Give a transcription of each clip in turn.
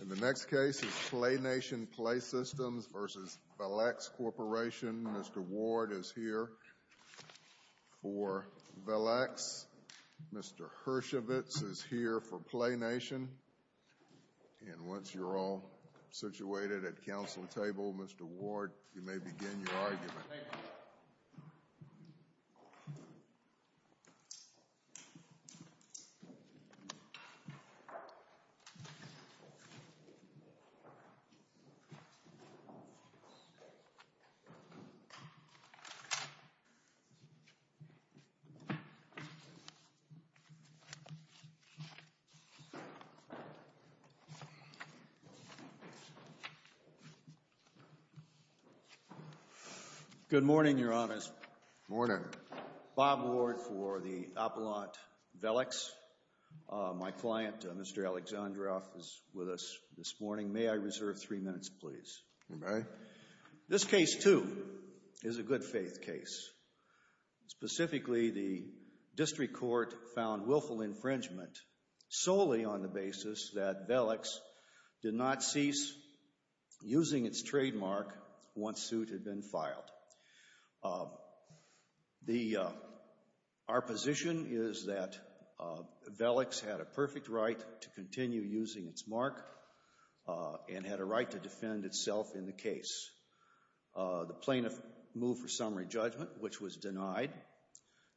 And the next case is PlayNation Play Systems v. Velex Corporation. Mr. Ward is here for Velex. Mr. Hershovitz is here for PlayNation. And once you're all situated at the council table, Mr. Ward, you may begin your argument. Good morning, Your Honors. Good morning. Bob Ward for the Appellant Velex. My client, Mr. Alexandrov, is with us this morning. May I reserve three minutes, please? You may. This case, too, is a good faith case. Specifically, the district court found willful infringement solely on the basis that Velex did not cease using its trademark once suit had been filed. Our position is that Velex had a perfect right to continue using its mark and had a right to defend itself in the case. The plaintiff moved for summary judgment, which was denied.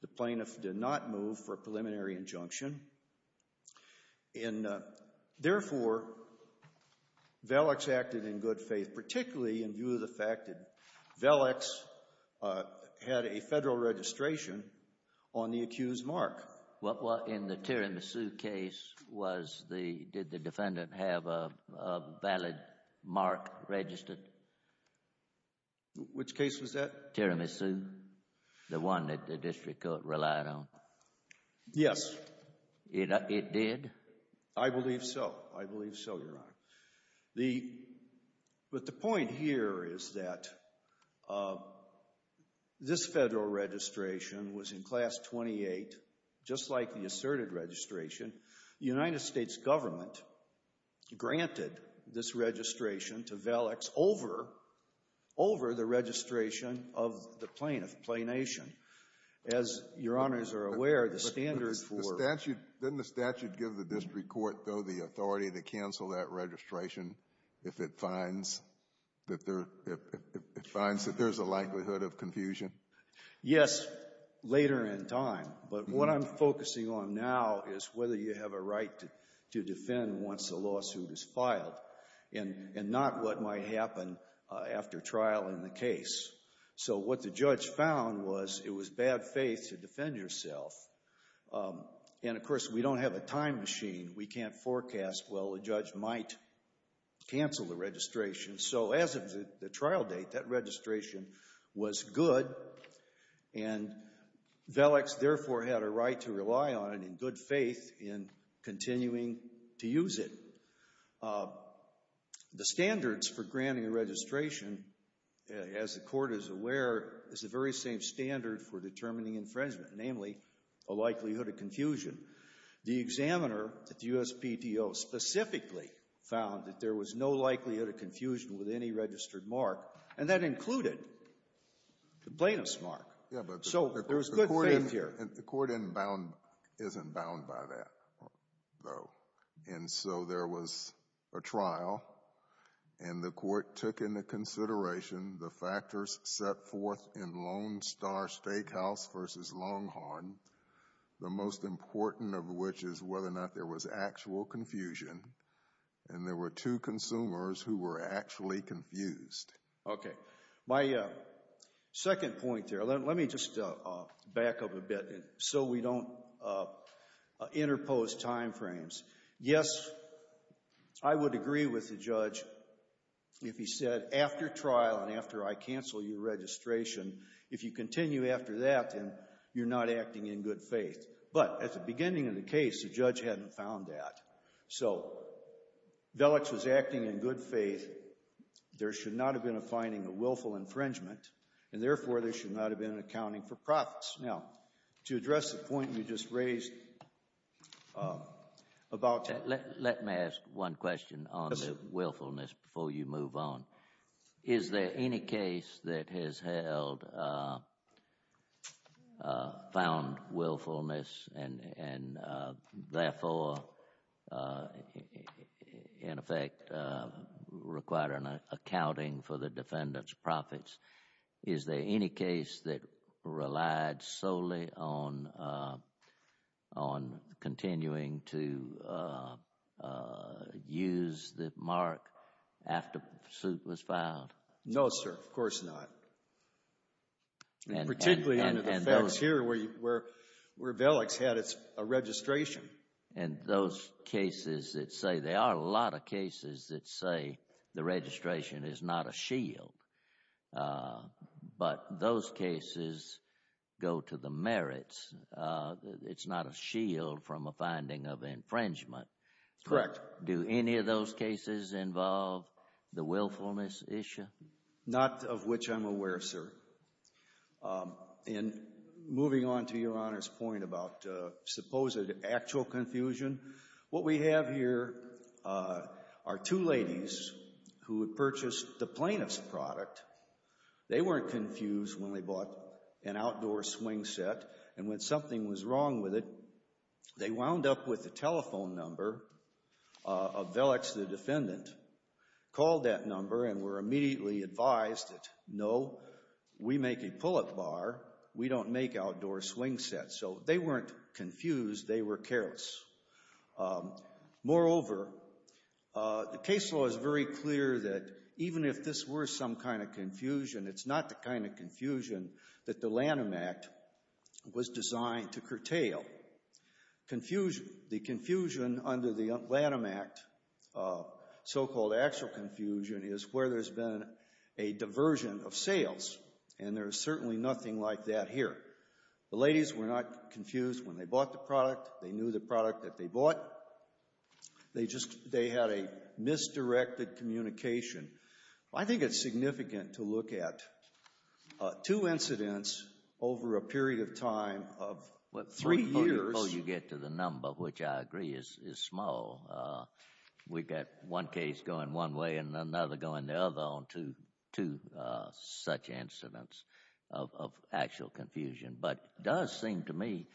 The plaintiff did not move for a preliminary injunction. And, therefore, Velex acted in good faith, particularly in view of the fact that Velex had a federal registration on the accused mark. In the Tiramisu case, did the defendant have a valid mark registered? Which case was that? Tiramisu, the one that the district court relied on. Yes. It did? I believe so. I believe so, Your Honor. But the point here is that this federal registration was in Class 28, just like the asserted registration. The United States government granted this registration to Velex over the registration of the plaintiff, Plaination. But didn't the statute give the district court, though, the authority to cancel that registration if it finds that there's a likelihood of confusion? Yes, later in time. But what I'm focusing on now is whether you have a right to defend once a lawsuit is filed and not what might happen after trial in the case. So what the judge found was it was bad faith to defend yourself. And, of course, we don't have a time machine. We can't forecast, well, the judge might cancel the registration. So as of the trial date, that registration was good. And Velex, therefore, had a right to rely on it in good faith in continuing to use it. The standards for granting a registration, as the court is aware, is the very same standard for determining infringement, namely a likelihood of confusion. The examiner at the USPTO specifically found that there was no likelihood of confusion with any registered mark, and that included the plaintiff's mark. So there was good faith here. The court isn't bound by that, though. And so there was a trial, and the court took into consideration the factors set forth in Lone Star Steakhouse v. Longhorn, the most important of which is whether or not there was actual confusion, and there were two consumers who were actually confused. Okay. My second point there, let me just back up a bit so we don't interpose time frames. Yes, I would agree with the judge if he said, after trial and after I cancel your registration, if you continue after that, then you're not acting in good faith. But at the beginning of the case, the judge hadn't found that. So Velich was acting in good faith. There should not have been a finding of willful infringement, and therefore there should not have been an accounting for profits. Now, to address the point you just raised about— Let me ask one question on the willfulness before you move on. Is there any case that has found willfulness and therefore, in effect, required an accounting for the defendant's profits? Is there any case that relied solely on continuing to use the mark after the suit was filed? No, sir. Of course not. Particularly under the facts here where Velich had a registration. And those cases that say—there are a lot of cases that say the registration is not a shield. But those cases go to the merits. It's not a shield from a finding of infringement. Correct. Do any of those cases involve the willfulness issue? Not of which I'm aware, sir. And moving on to Your Honor's point about supposed actual confusion. What we have here are two ladies who had purchased the plaintiff's product. They weren't confused when they bought an outdoor swing set. And when something was wrong with it, they wound up with the telephone number of Velich, the defendant. Called that number and were immediately advised that, no, we make a pull-up bar. We don't make outdoor swing sets. So they weren't confused. They were careless. Moreover, the case law is very clear that even if this were some kind of confusion, it's not the kind of confusion that the Lanham Act was designed to curtail. The confusion under the Lanham Act, so-called actual confusion, is where there's been a diversion of sales. And there's certainly nothing like that here. The ladies were not confused when they bought the product. They knew the product that they bought. They just had a misdirected communication. I think it's significant to look at two incidents over a period of time of three years. Before you get to the number, which I agree is small, we've got one case going one way and another going the other on two such incidents of actual confusion. But it does seem to me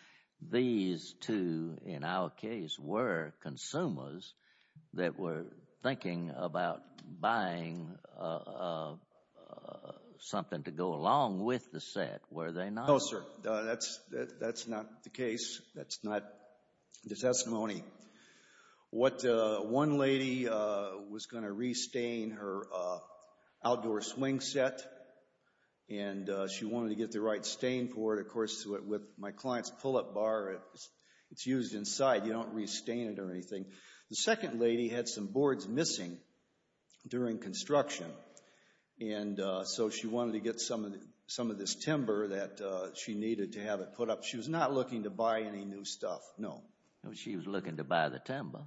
these two, in our case, were consumers that were thinking about buying something to go along with the set, were they not? No, sir. That's not the case. That's not the testimony. One lady was going to restain her outdoor swing set, and she wanted to get the right stain for it. Of course, with my client's pull-up bar, it's used inside. You don't restain it or anything. The second lady had some boards missing during construction, and so she wanted to get some of this timber that she needed to have it put up. She was not looking to buy any new stuff, no. She was looking to buy the timber.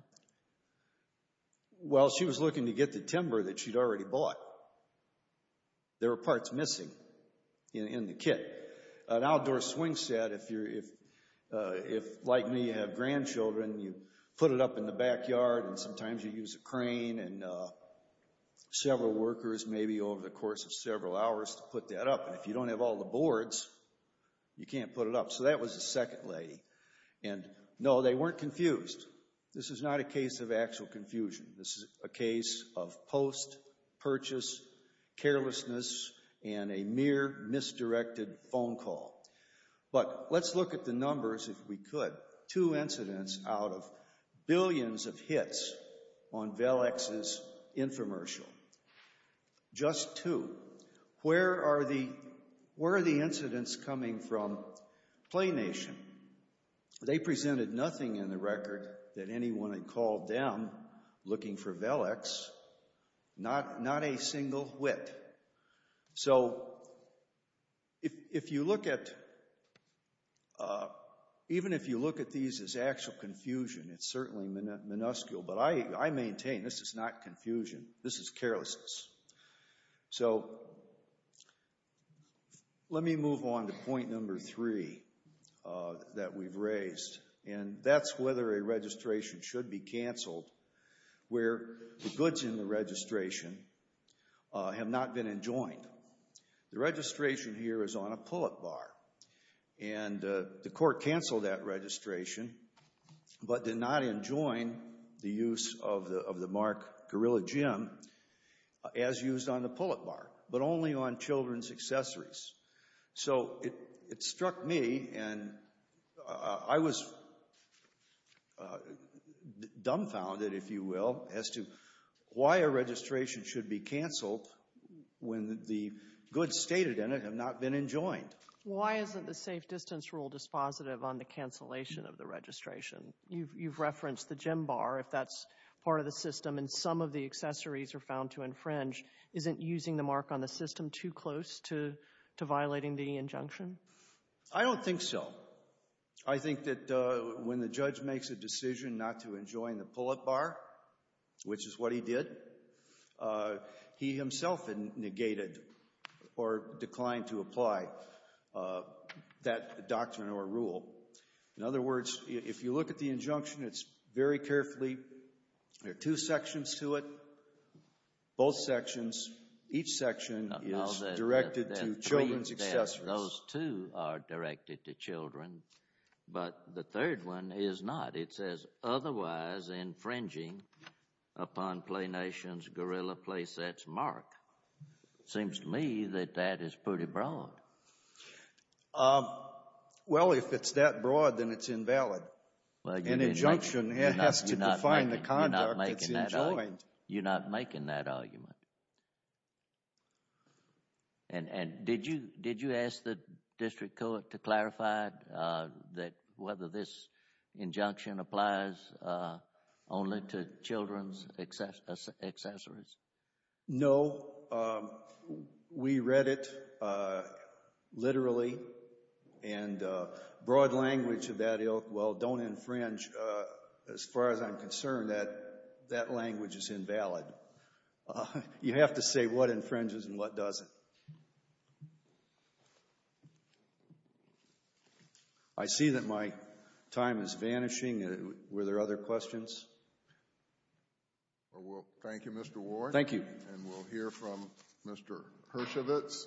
Well, she was looking to get the timber that she'd already bought. There were parts missing in the kit. An outdoor swing set, if like me you have grandchildren, you put it up in the backyard, and sometimes you use a crane and several workers maybe over the course of several hours to put that up. If you don't have all the boards, you can't put it up. So that was the second lady. No, they weren't confused. This is not a case of actual confusion. This is a case of post-purchase carelessness and a mere misdirected phone call. But let's look at the numbers, if we could. Two incidents out of billions of hits on Velex's infomercial. Just two. Where are the incidents coming from? Play Nation. They presented nothing in the record that anyone had called them looking for Velex. Not a single whit. So, even if you look at these as actual confusion, it's certainly minuscule, but I maintain this is not confusion. This is carelessness. So, let me move on to point number three that we've raised. And that's whether a registration should be canceled where the goods in the registration have not been enjoined. The registration here is on a pull-up bar. And the court canceled that registration, but did not enjoin the use of the mark Gorilla Gym as used on the pull-up bar, but only on children's accessories. So, it struck me, and I was dumbfounded, if you will, as to why a registration should be canceled when the goods stated in it have not been enjoined. Why isn't the safe distance rule dispositive on the cancellation of the registration? You've referenced the gym bar, if that's part of the system, and some of the accessories are found to infringe. Isn't using the mark on the system too close to violating the injunction? I don't think so. I think that when the judge makes a decision not to enjoin the pull-up bar, which is what he did, he himself negated or declined to apply that doctrine or rule. In other words, if you look at the injunction, it's very carefully, there are two sections to it, both sections. Each section is directed to children's accessories. Those two are directed to children, but the third one is not. It says, otherwise infringing upon Play Nation's Gorilla Playset's mark. It seems to me that that is pretty broad. Well, if it's that broad, then it's invalid. An injunction has to define the conduct that's enjoined. You're not making that argument. And did you ask the district court to clarify whether this injunction applies only to children's accessories? No. We read it literally, and broad language of that, well, don't infringe. As far as I'm concerned, that language is invalid. You have to say what infringes and what doesn't. I see that my time is vanishing. Were there other questions? Thank you, Mr. Warren. Thank you. And we'll hear from Mr. Hershovitz. Mr. Hershovitz.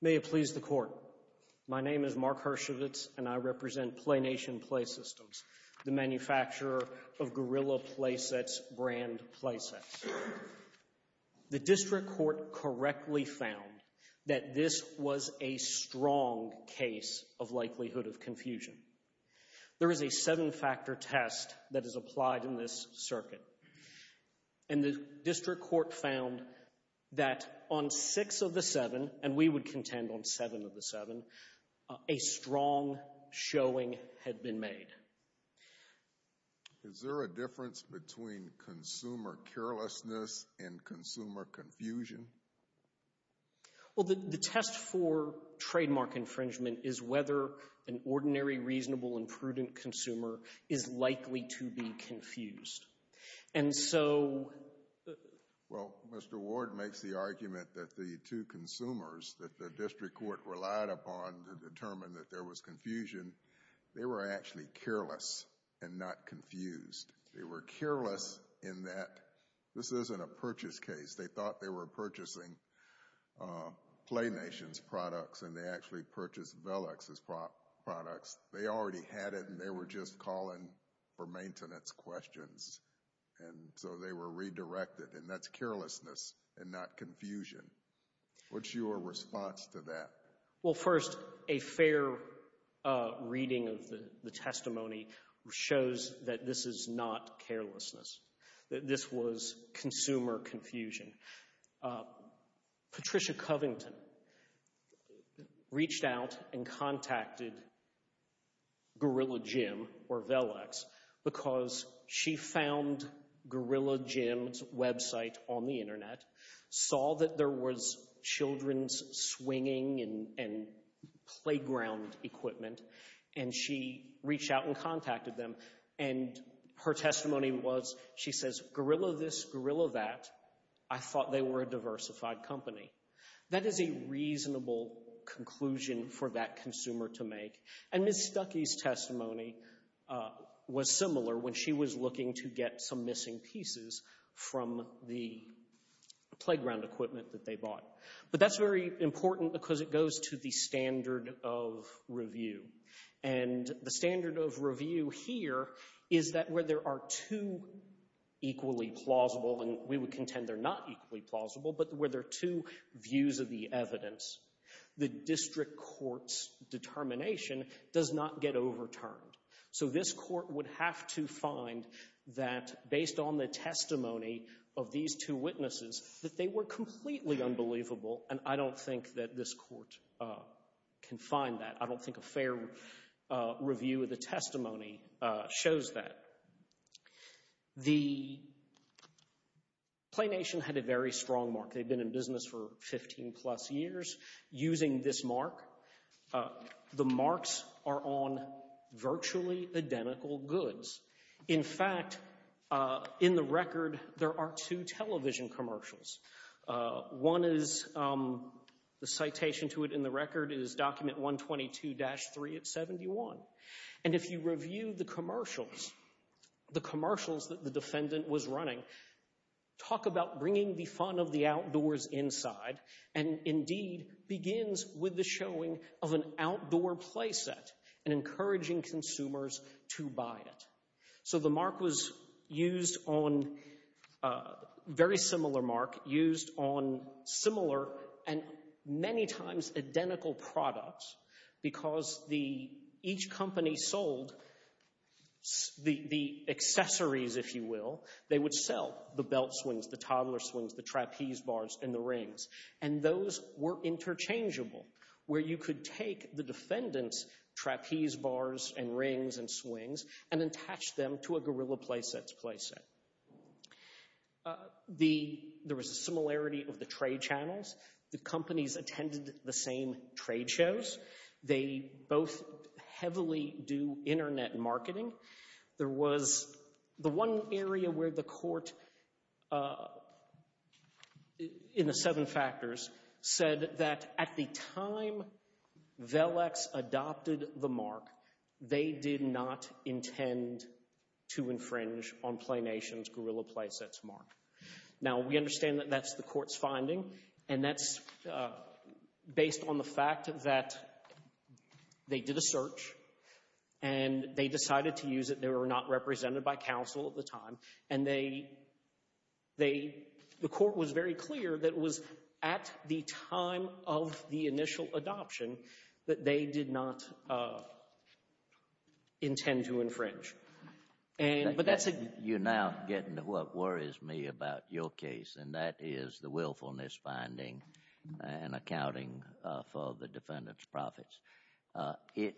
May it please the Court. My name is Mark Hershovitz, and I represent Play Nation Play Systems, the manufacturer of Gorilla Playset's brand playsets. The district court correctly found that this was a strong case of likelihood of confusion. There is a seven-factor test that is applied in this circuit. And the district court found that on six of the seven, and we would contend on seven of the seven, a strong showing had been made. Is there a difference between consumer carelessness and consumer confusion? Well, the test for trademark infringement is whether an ordinary, reasonable, and prudent consumer is likely to be confused. And so— Well, Mr. Ward makes the argument that the two consumers that the district court relied upon to determine that there was confusion, they were actually careless and not confused. They were careless in that this isn't a purchase case. They thought they were purchasing Play Nation's products, and they actually purchased Velux's products. They already had it, and they were just calling for maintenance questions. And so they were redirected. And that's carelessness and not confusion. What's your response to that? Well, first, a fair reading of the testimony shows that this is not carelessness. That this was consumer confusion. Patricia Covington reached out and contacted Gorilla Gym or Velux because she found Gorilla Gym's website on the internet, saw that there was children's swinging and playground equipment, and she reached out and contacted them. And her testimony was, she says, Gorilla this, Gorilla that. I thought they were a diversified company. That is a reasonable conclusion for that consumer to make. And Ms. Stuckey's testimony was similar when she was looking to get some missing pieces from the playground equipment that they bought. But that's very important because it goes to the standard of review. And the standard of review here is that where there are two equally plausible, and we would contend they're not equally plausible, but where there are two views of the evidence, the district court's determination does not get overturned. So this court would have to find that, based on the testimony of these two witnesses, that they were completely unbelievable. And I don't think that this court can find that. I don't think a fair review of the testimony shows that. The Play Nation had a very strong mark. They've been in business for 15-plus years using this mark. The marks are on virtually identical goods. In fact, in the record, there are two television commercials. One is, the citation to it in the record is document 122-3 of 71. And if you review the commercials, the commercials that the defendant was running, talk about bringing the fun of the outdoors inside, and indeed begins with the showing of an outdoor play set and encouraging consumers to buy it. So the mark was used on, a very similar mark, used on similar and many times identical products, because each company sold the accessories, if you will. They would sell the belt swings, the toddler swings, the trapeze bars, and the rings. And those were interchangeable, where you could take the defendant's trapeze bars and rings and swings and attach them to a Gorilla Play Set's play set. There was a similarity of the trade channels. The companies attended the same trade shows. They both heavily do internet marketing. There was the one area where the court, in the seven factors, said that at the time VELEX adopted the mark, they did not intend to infringe on Play Nation's Gorilla Play Set's mark. Now, we understand that that's the court's finding, and that's based on the fact that they did a search, and they decided to use it. They were not represented by counsel at the time. And the court was very clear that it was at the time of the initial adoption that they did not intend to infringe. But that's a— You're now getting to what worries me about your case, and that is the willfulness finding and accounting for the defendant's profits. It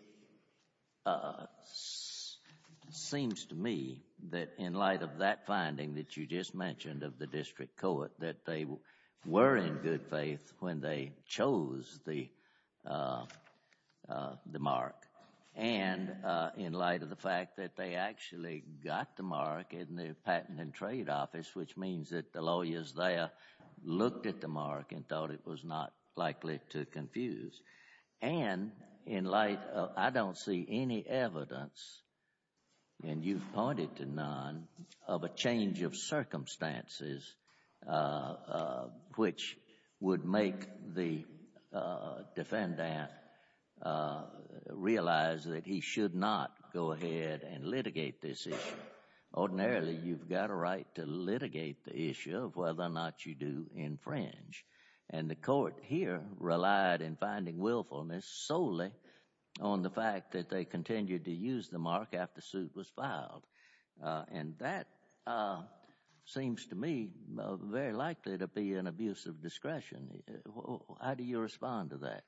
seems to me that in light of that finding that you just mentioned of the district court, that they were in good faith when they chose the mark, and in light of the fact that they actually got the mark in the Patent and Trade Office, which means that the lawyers there looked at the mark and thought it was not likely to confuse. And in light of—I don't see any evidence, and you've pointed to none, of a change of circumstances which would make the defendant realize that he should not go ahead and litigate this issue. Ordinarily, you've got a right to litigate the issue of whether or not you do infringe. And the court here relied in finding willfulness solely on the fact that they continued to use the mark after suit was filed. And that seems to me very likely to be an abuse of discretion. How do you respond to that?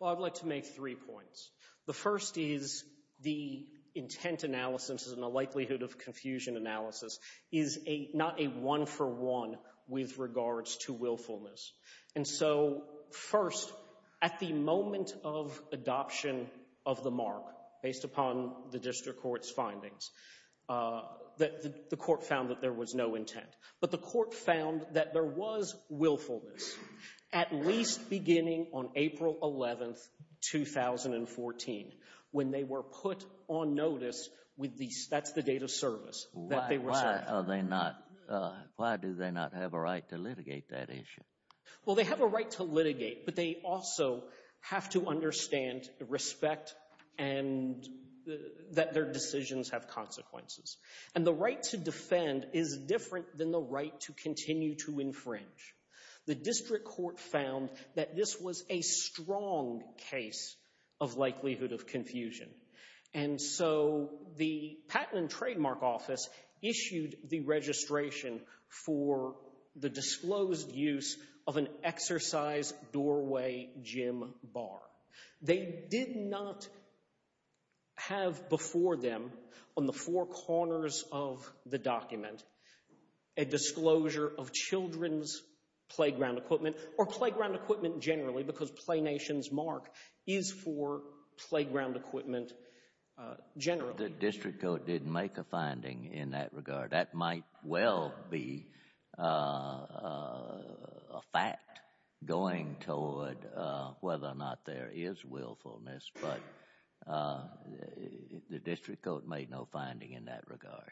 Well, I'd like to make three points. The first is the intent analysis and the likelihood of confusion analysis is not a one-for-one with regards to willfulness. And so, first, at the moment of adoption of the mark, based upon the district court's findings, the court found that there was no intent. But the court found that there was willfulness, at least beginning on April 11, 2014, when they were put on notice with the—that's the date of service that they were sent. Why are they not—why do they not have a right to litigate that issue? Well, they have a right to litigate, but they also have to understand respect and that their decisions have consequences. And the right to defend is different than the right to continue to infringe. The district court found that this was a strong case of likelihood of confusion. And so the Patent and Trademark Office issued the registration for the disclosed use of an exercise doorway gym bar. They did not have before them on the four corners of the document a disclosure of children's playground equipment or playground equipment generally because Play Nation's mark is for playground equipment generally. The district court didn't make a finding in that regard. That might well be a fact going toward whether or not there is willfulness, but the district court made no finding in that regard.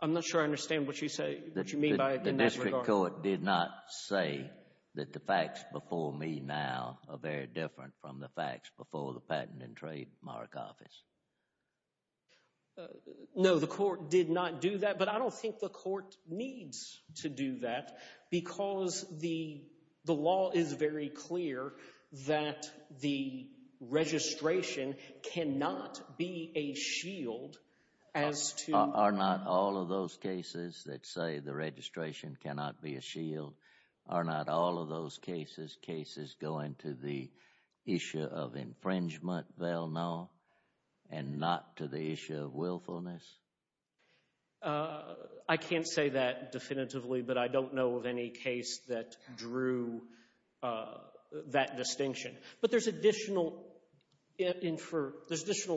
I'm not sure I understand what you say—what you mean by in this regard. The district court did not say that the facts before me now are very different from the facts before the Patent and Trademark Office. No, the court did not do that, but I don't think the court needs to do that because the law is very clear that the registration cannot be a shield as to— Are not all of those cases that say the registration cannot be a shield, are not all of those cases, going to the issue of infringement, Val? No? And not to the issue of willfulness? I can't say that definitively, but I don't know of any case that drew that distinction. But there's additional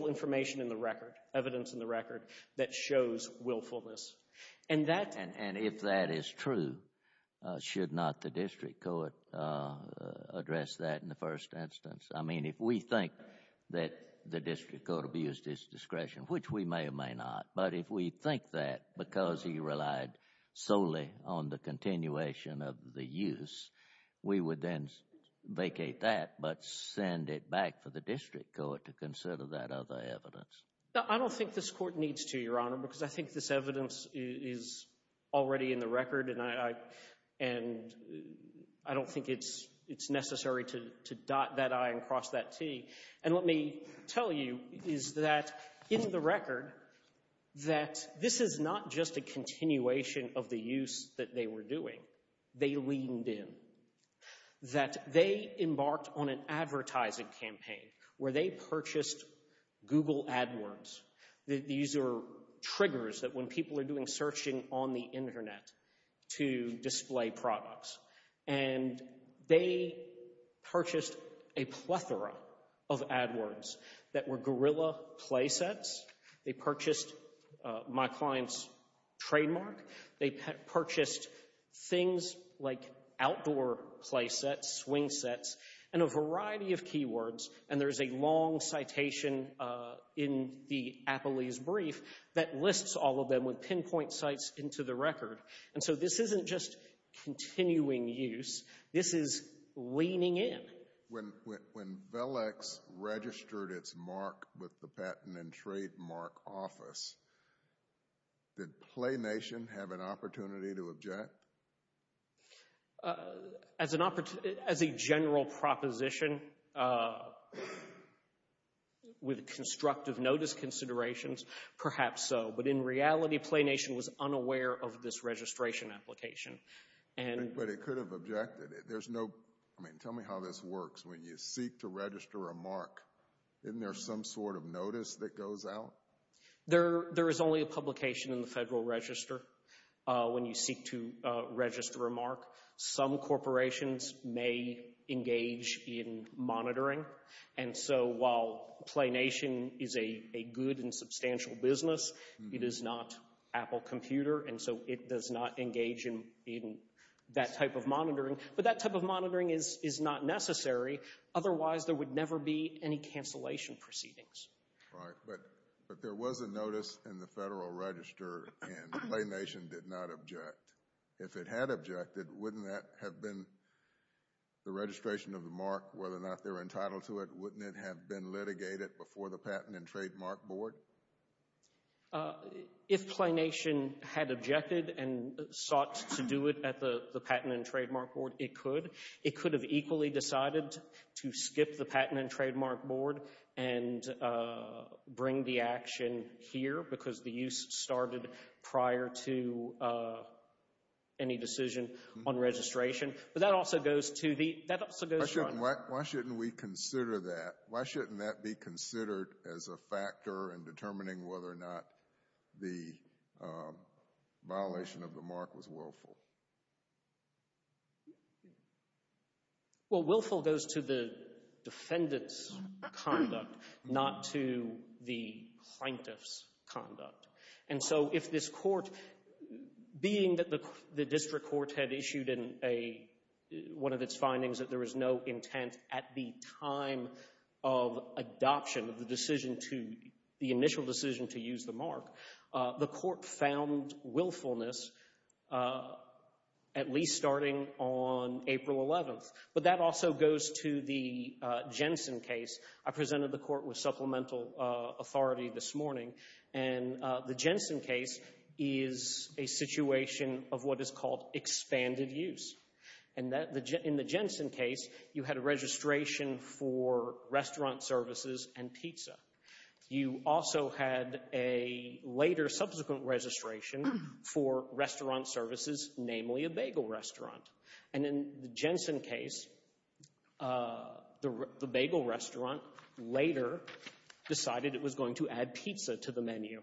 information in the record, evidence in the record, that shows willfulness. And if that is true, should not the district court address that in the first instance? I mean, if we think that the district court abused its discretion, which we may or may not, but if we think that because he relied solely on the continuation of the use, we would then vacate that but send it back for the district court to consider that other evidence. I don't think this court needs to, Your Honor, because I think this evidence is already in the record, and I don't think it's necessary to dot that I and cross that T. And let me tell you is that in the record that this is not just a continuation of the use that they were doing. They leaned in. That they embarked on an advertising campaign where they purchased Google AdWords. These are triggers that when people are doing searching on the Internet to display products. And they purchased a plethora of AdWords that were guerrilla play sets. They purchased my client's trademark. They purchased things like outdoor play sets, swing sets, and a variety of keywords. And there's a long citation in the Applease brief that lists all of them with pinpoint sites into the record. And so this isn't just continuing use. This is leaning in. When VELEX registered its mark with the Patent and Trademark Office, did PlayNation have an opportunity to object? As a general proposition with constructive notice considerations, perhaps so. But in reality, PlayNation was unaware of this registration application. But it could have objected. Tell me how this works. When you seek to register a mark, isn't there some sort of notice that goes out? There is only a publication in the Federal Register when you seek to register a mark. Some corporations may engage in monitoring. And so while PlayNation is a good and substantial business, it is not Apple Computer. And so it does not engage in that type of monitoring. But that type of monitoring is not necessary. Otherwise, there would never be any cancellation proceedings. But there was a notice in the Federal Register, and PlayNation did not object. If it had objected, wouldn't that have been the registration of the mark, whether or not they were entitled to it? Wouldn't it have been litigated before the Patent and Trademark Board? If PlayNation had objected and sought to do it at the Patent and Trademark Board, it could. It could have equally decided to skip the Patent and Trademark Board and bring the action here because the use started prior to any decision on registration. But that also goes to the— Why shouldn't we consider that? Why shouldn't that be considered as a factor in determining whether or not the violation of the mark was willful? Well, willful goes to the defendant's conduct, not to the plaintiff's conduct. And so if this court, being that the district court had issued one of its findings that there was no intent at the time of adoption of the initial decision to use the mark, the court found willfulness at least starting on April 11th. But that also goes to the Jensen case. I presented the court with supplemental authority this morning, and the Jensen case is a situation of what is called expanded use. In the Jensen case, you had a registration for restaurant services and pizza. You also had a later subsequent registration for restaurant services, namely a bagel restaurant. And in the Jensen case, the bagel restaurant later decided it was going to add pizza to the menu.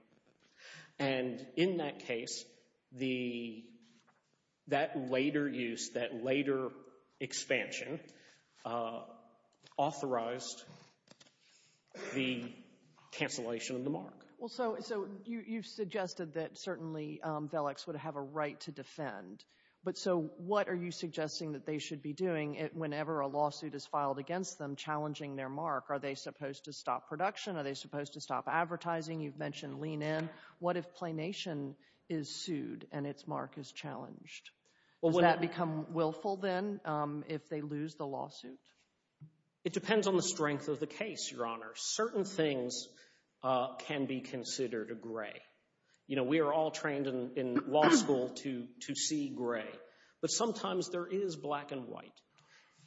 And in that case, that later use, that later expansion authorized the cancellation of the mark. Well, so you've suggested that certainly Velix would have a right to defend. But so what are you suggesting that they should be doing whenever a lawsuit is filed against them challenging their mark? Are they supposed to stop production? Are they supposed to stop advertising? You've mentioned lean in. What if Planation is sued and its mark is challenged? Does that become willful then if they lose the lawsuit? It depends on the strength of the case, Your Honor. Certain things can be considered a gray. You know, we are all trained in law school to see gray. But sometimes there is black and white.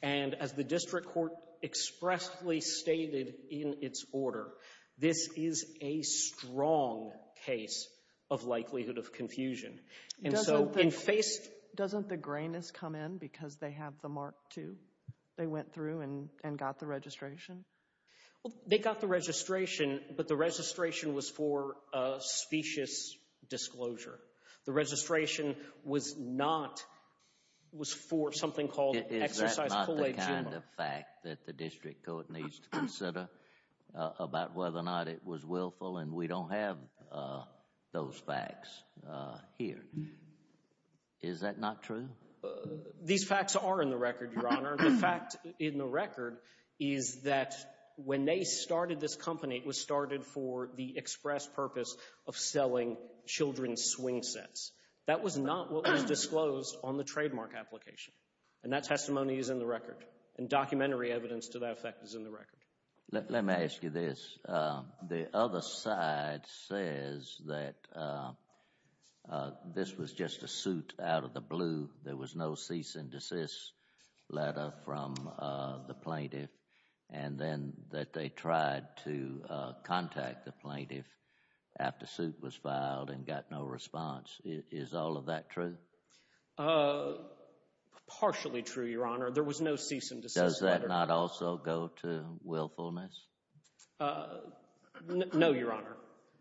And as the district court expressly stated in its order, this is a strong case of likelihood of confusion. Doesn't the grayness come in because they have the mark too? They went through and got the registration? Well, they got the registration, but the registration was for specious disclosure. The registration was not, was for something called exercise collation. Is that not the kind of fact that the district court needs to consider about whether or not it was willful? And we don't have those facts here. Is that not true? These facts are in the record, Your Honor. The fact in the record is that when they started this company, it was started for the express purpose of selling children's swing sets. That was not what was disclosed on the trademark application. And that testimony is in the record. And documentary evidence to that effect is in the record. Let me ask you this. The other side says that this was just a suit out of the blue. There was no cease and desist letter from the plaintiff and then that they tried to contact the plaintiff after suit was filed and got no response. Is all of that true? Partially true, Your Honor. There was no cease and desist letter. Does that not also go to willfulness? No, Your Honor.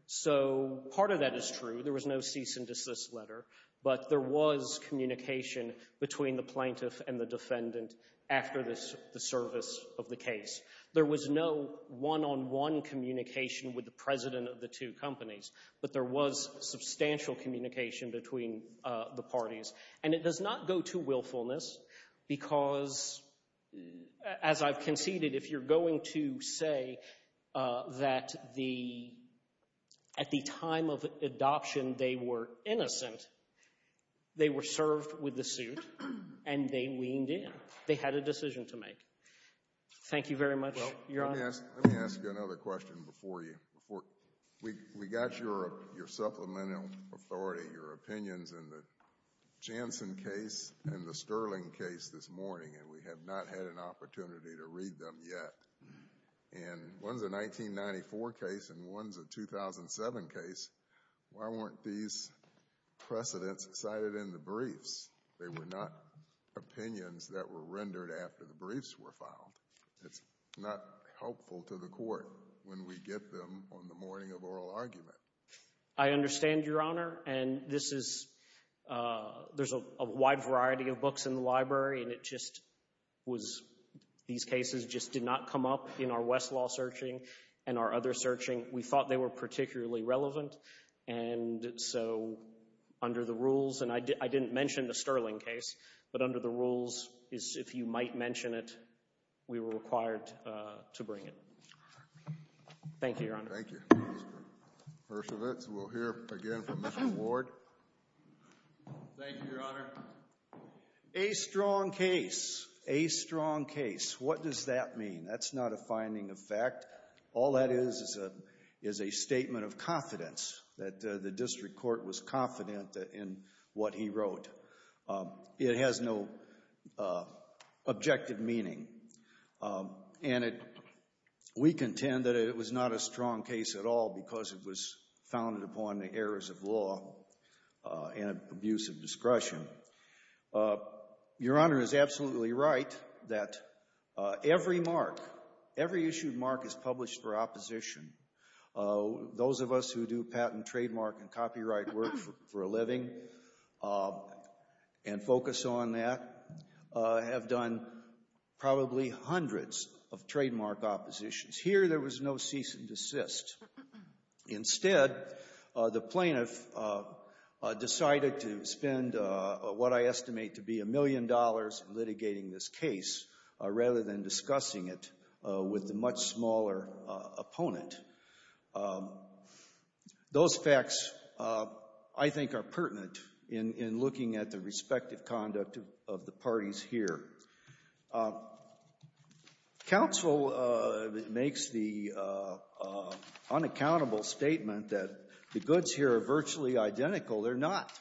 So part of that is true. There was no cease and desist letter, but there was communication between the plaintiff and the defendant after the service of the case. There was no one-on-one communication with the president of the two companies, but there was substantial communication between the parties. And it does not go to willfulness because, as I've conceded, if you're going to say that at the time of adoption they were innocent, they were served with the suit and they leaned in. They had a decision to make. Thank you very much, Your Honor. Let me ask you another question before we got your supplemental authority, your opinions in the Jansen case and the Sterling case this morning, and we have not had an opportunity to read them yet. And one's a 1994 case and one's a 2007 case. Why weren't these precedents cited in the briefs? They were not opinions that were rendered after the briefs were filed. It's not helpful to the court when we get them on the morning of oral argument. I understand, Your Honor, and this is – there's a wide variety of books in the library and it just was – these cases just did not come up in our Westlaw searching and our other searching. We thought they were particularly relevant. And so under the rules – and I didn't mention the Sterling case, but under the rules is if you might mention it, we were required to bring it. Thank you, Your Honor. Thank you. First of its, we'll hear again from Mr. Ward. Thank you, Your Honor. A strong case. A strong case. What does that mean? That's not a finding of fact. All that is is a statement of confidence that the district court was confident in what he wrote. It has no objective meaning. And we contend that it was not a strong case at all because it was founded upon the errors of law and abuse of discretion. Your Honor is absolutely right that every mark, every issued mark is published for opposition. Those of us who do patent, trademark, and copyright work for a living and focus on that have done probably hundreds of trademark oppositions. Here there was no cease and desist. Instead, the plaintiff decided to spend what I estimate to be a million dollars litigating this case rather than discussing it with the much smaller opponent. Those facts, I think, are pertinent in looking at the respective conduct of the parties here. Counsel makes the unaccountable statement that the goods here are virtually identical. They're not.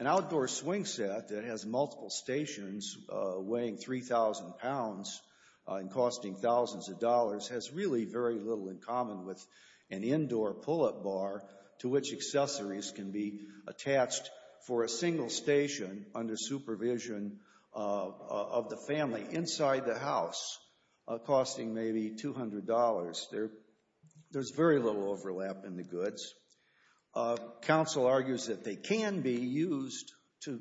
An outdoor swing set that has multiple stations weighing 3,000 pounds and costing thousands of dollars has really very little in common with an indoor pull-up bar to which accessories can be attached for a single station under supervision of the family inside the house, costing maybe $200. There's very little overlap in the goods. Counsel argues that they can be used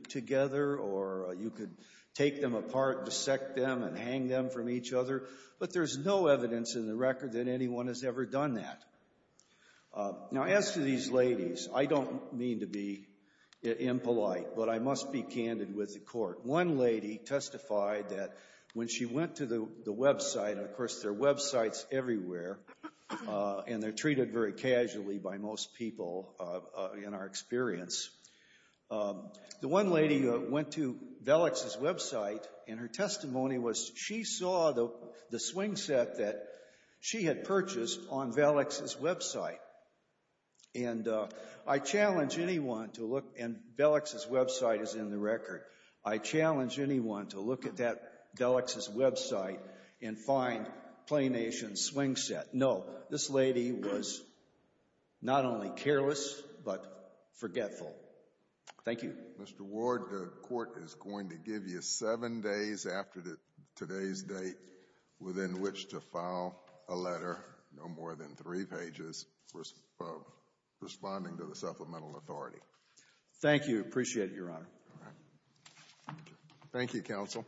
together or you could take them apart, dissect them, and hang them from each other. But there's no evidence in the record that anyone has ever done that. Now as to these ladies, I don't mean to be impolite, but I must be candid with the court. One lady testified that when she went to the website, and of course there are websites everywhere, and they're treated very casually by most people in our experience. The one lady went to Velix's website and her testimony was she saw the swing set that she had purchased on Velix's website. And I challenge anyone to look, and Velix's website is in the record, I challenge anyone to look at that Velix's website and find Play Nation's swing set. No, this lady was not only careless, but forgetful. Thank you. Mr. Ward, the court is going to give you seven days after today's date within which to file a letter, no more than three pages, responding to the supplemental authority. Thank you. Appreciate it, Your Honor. Thank you, Counsel.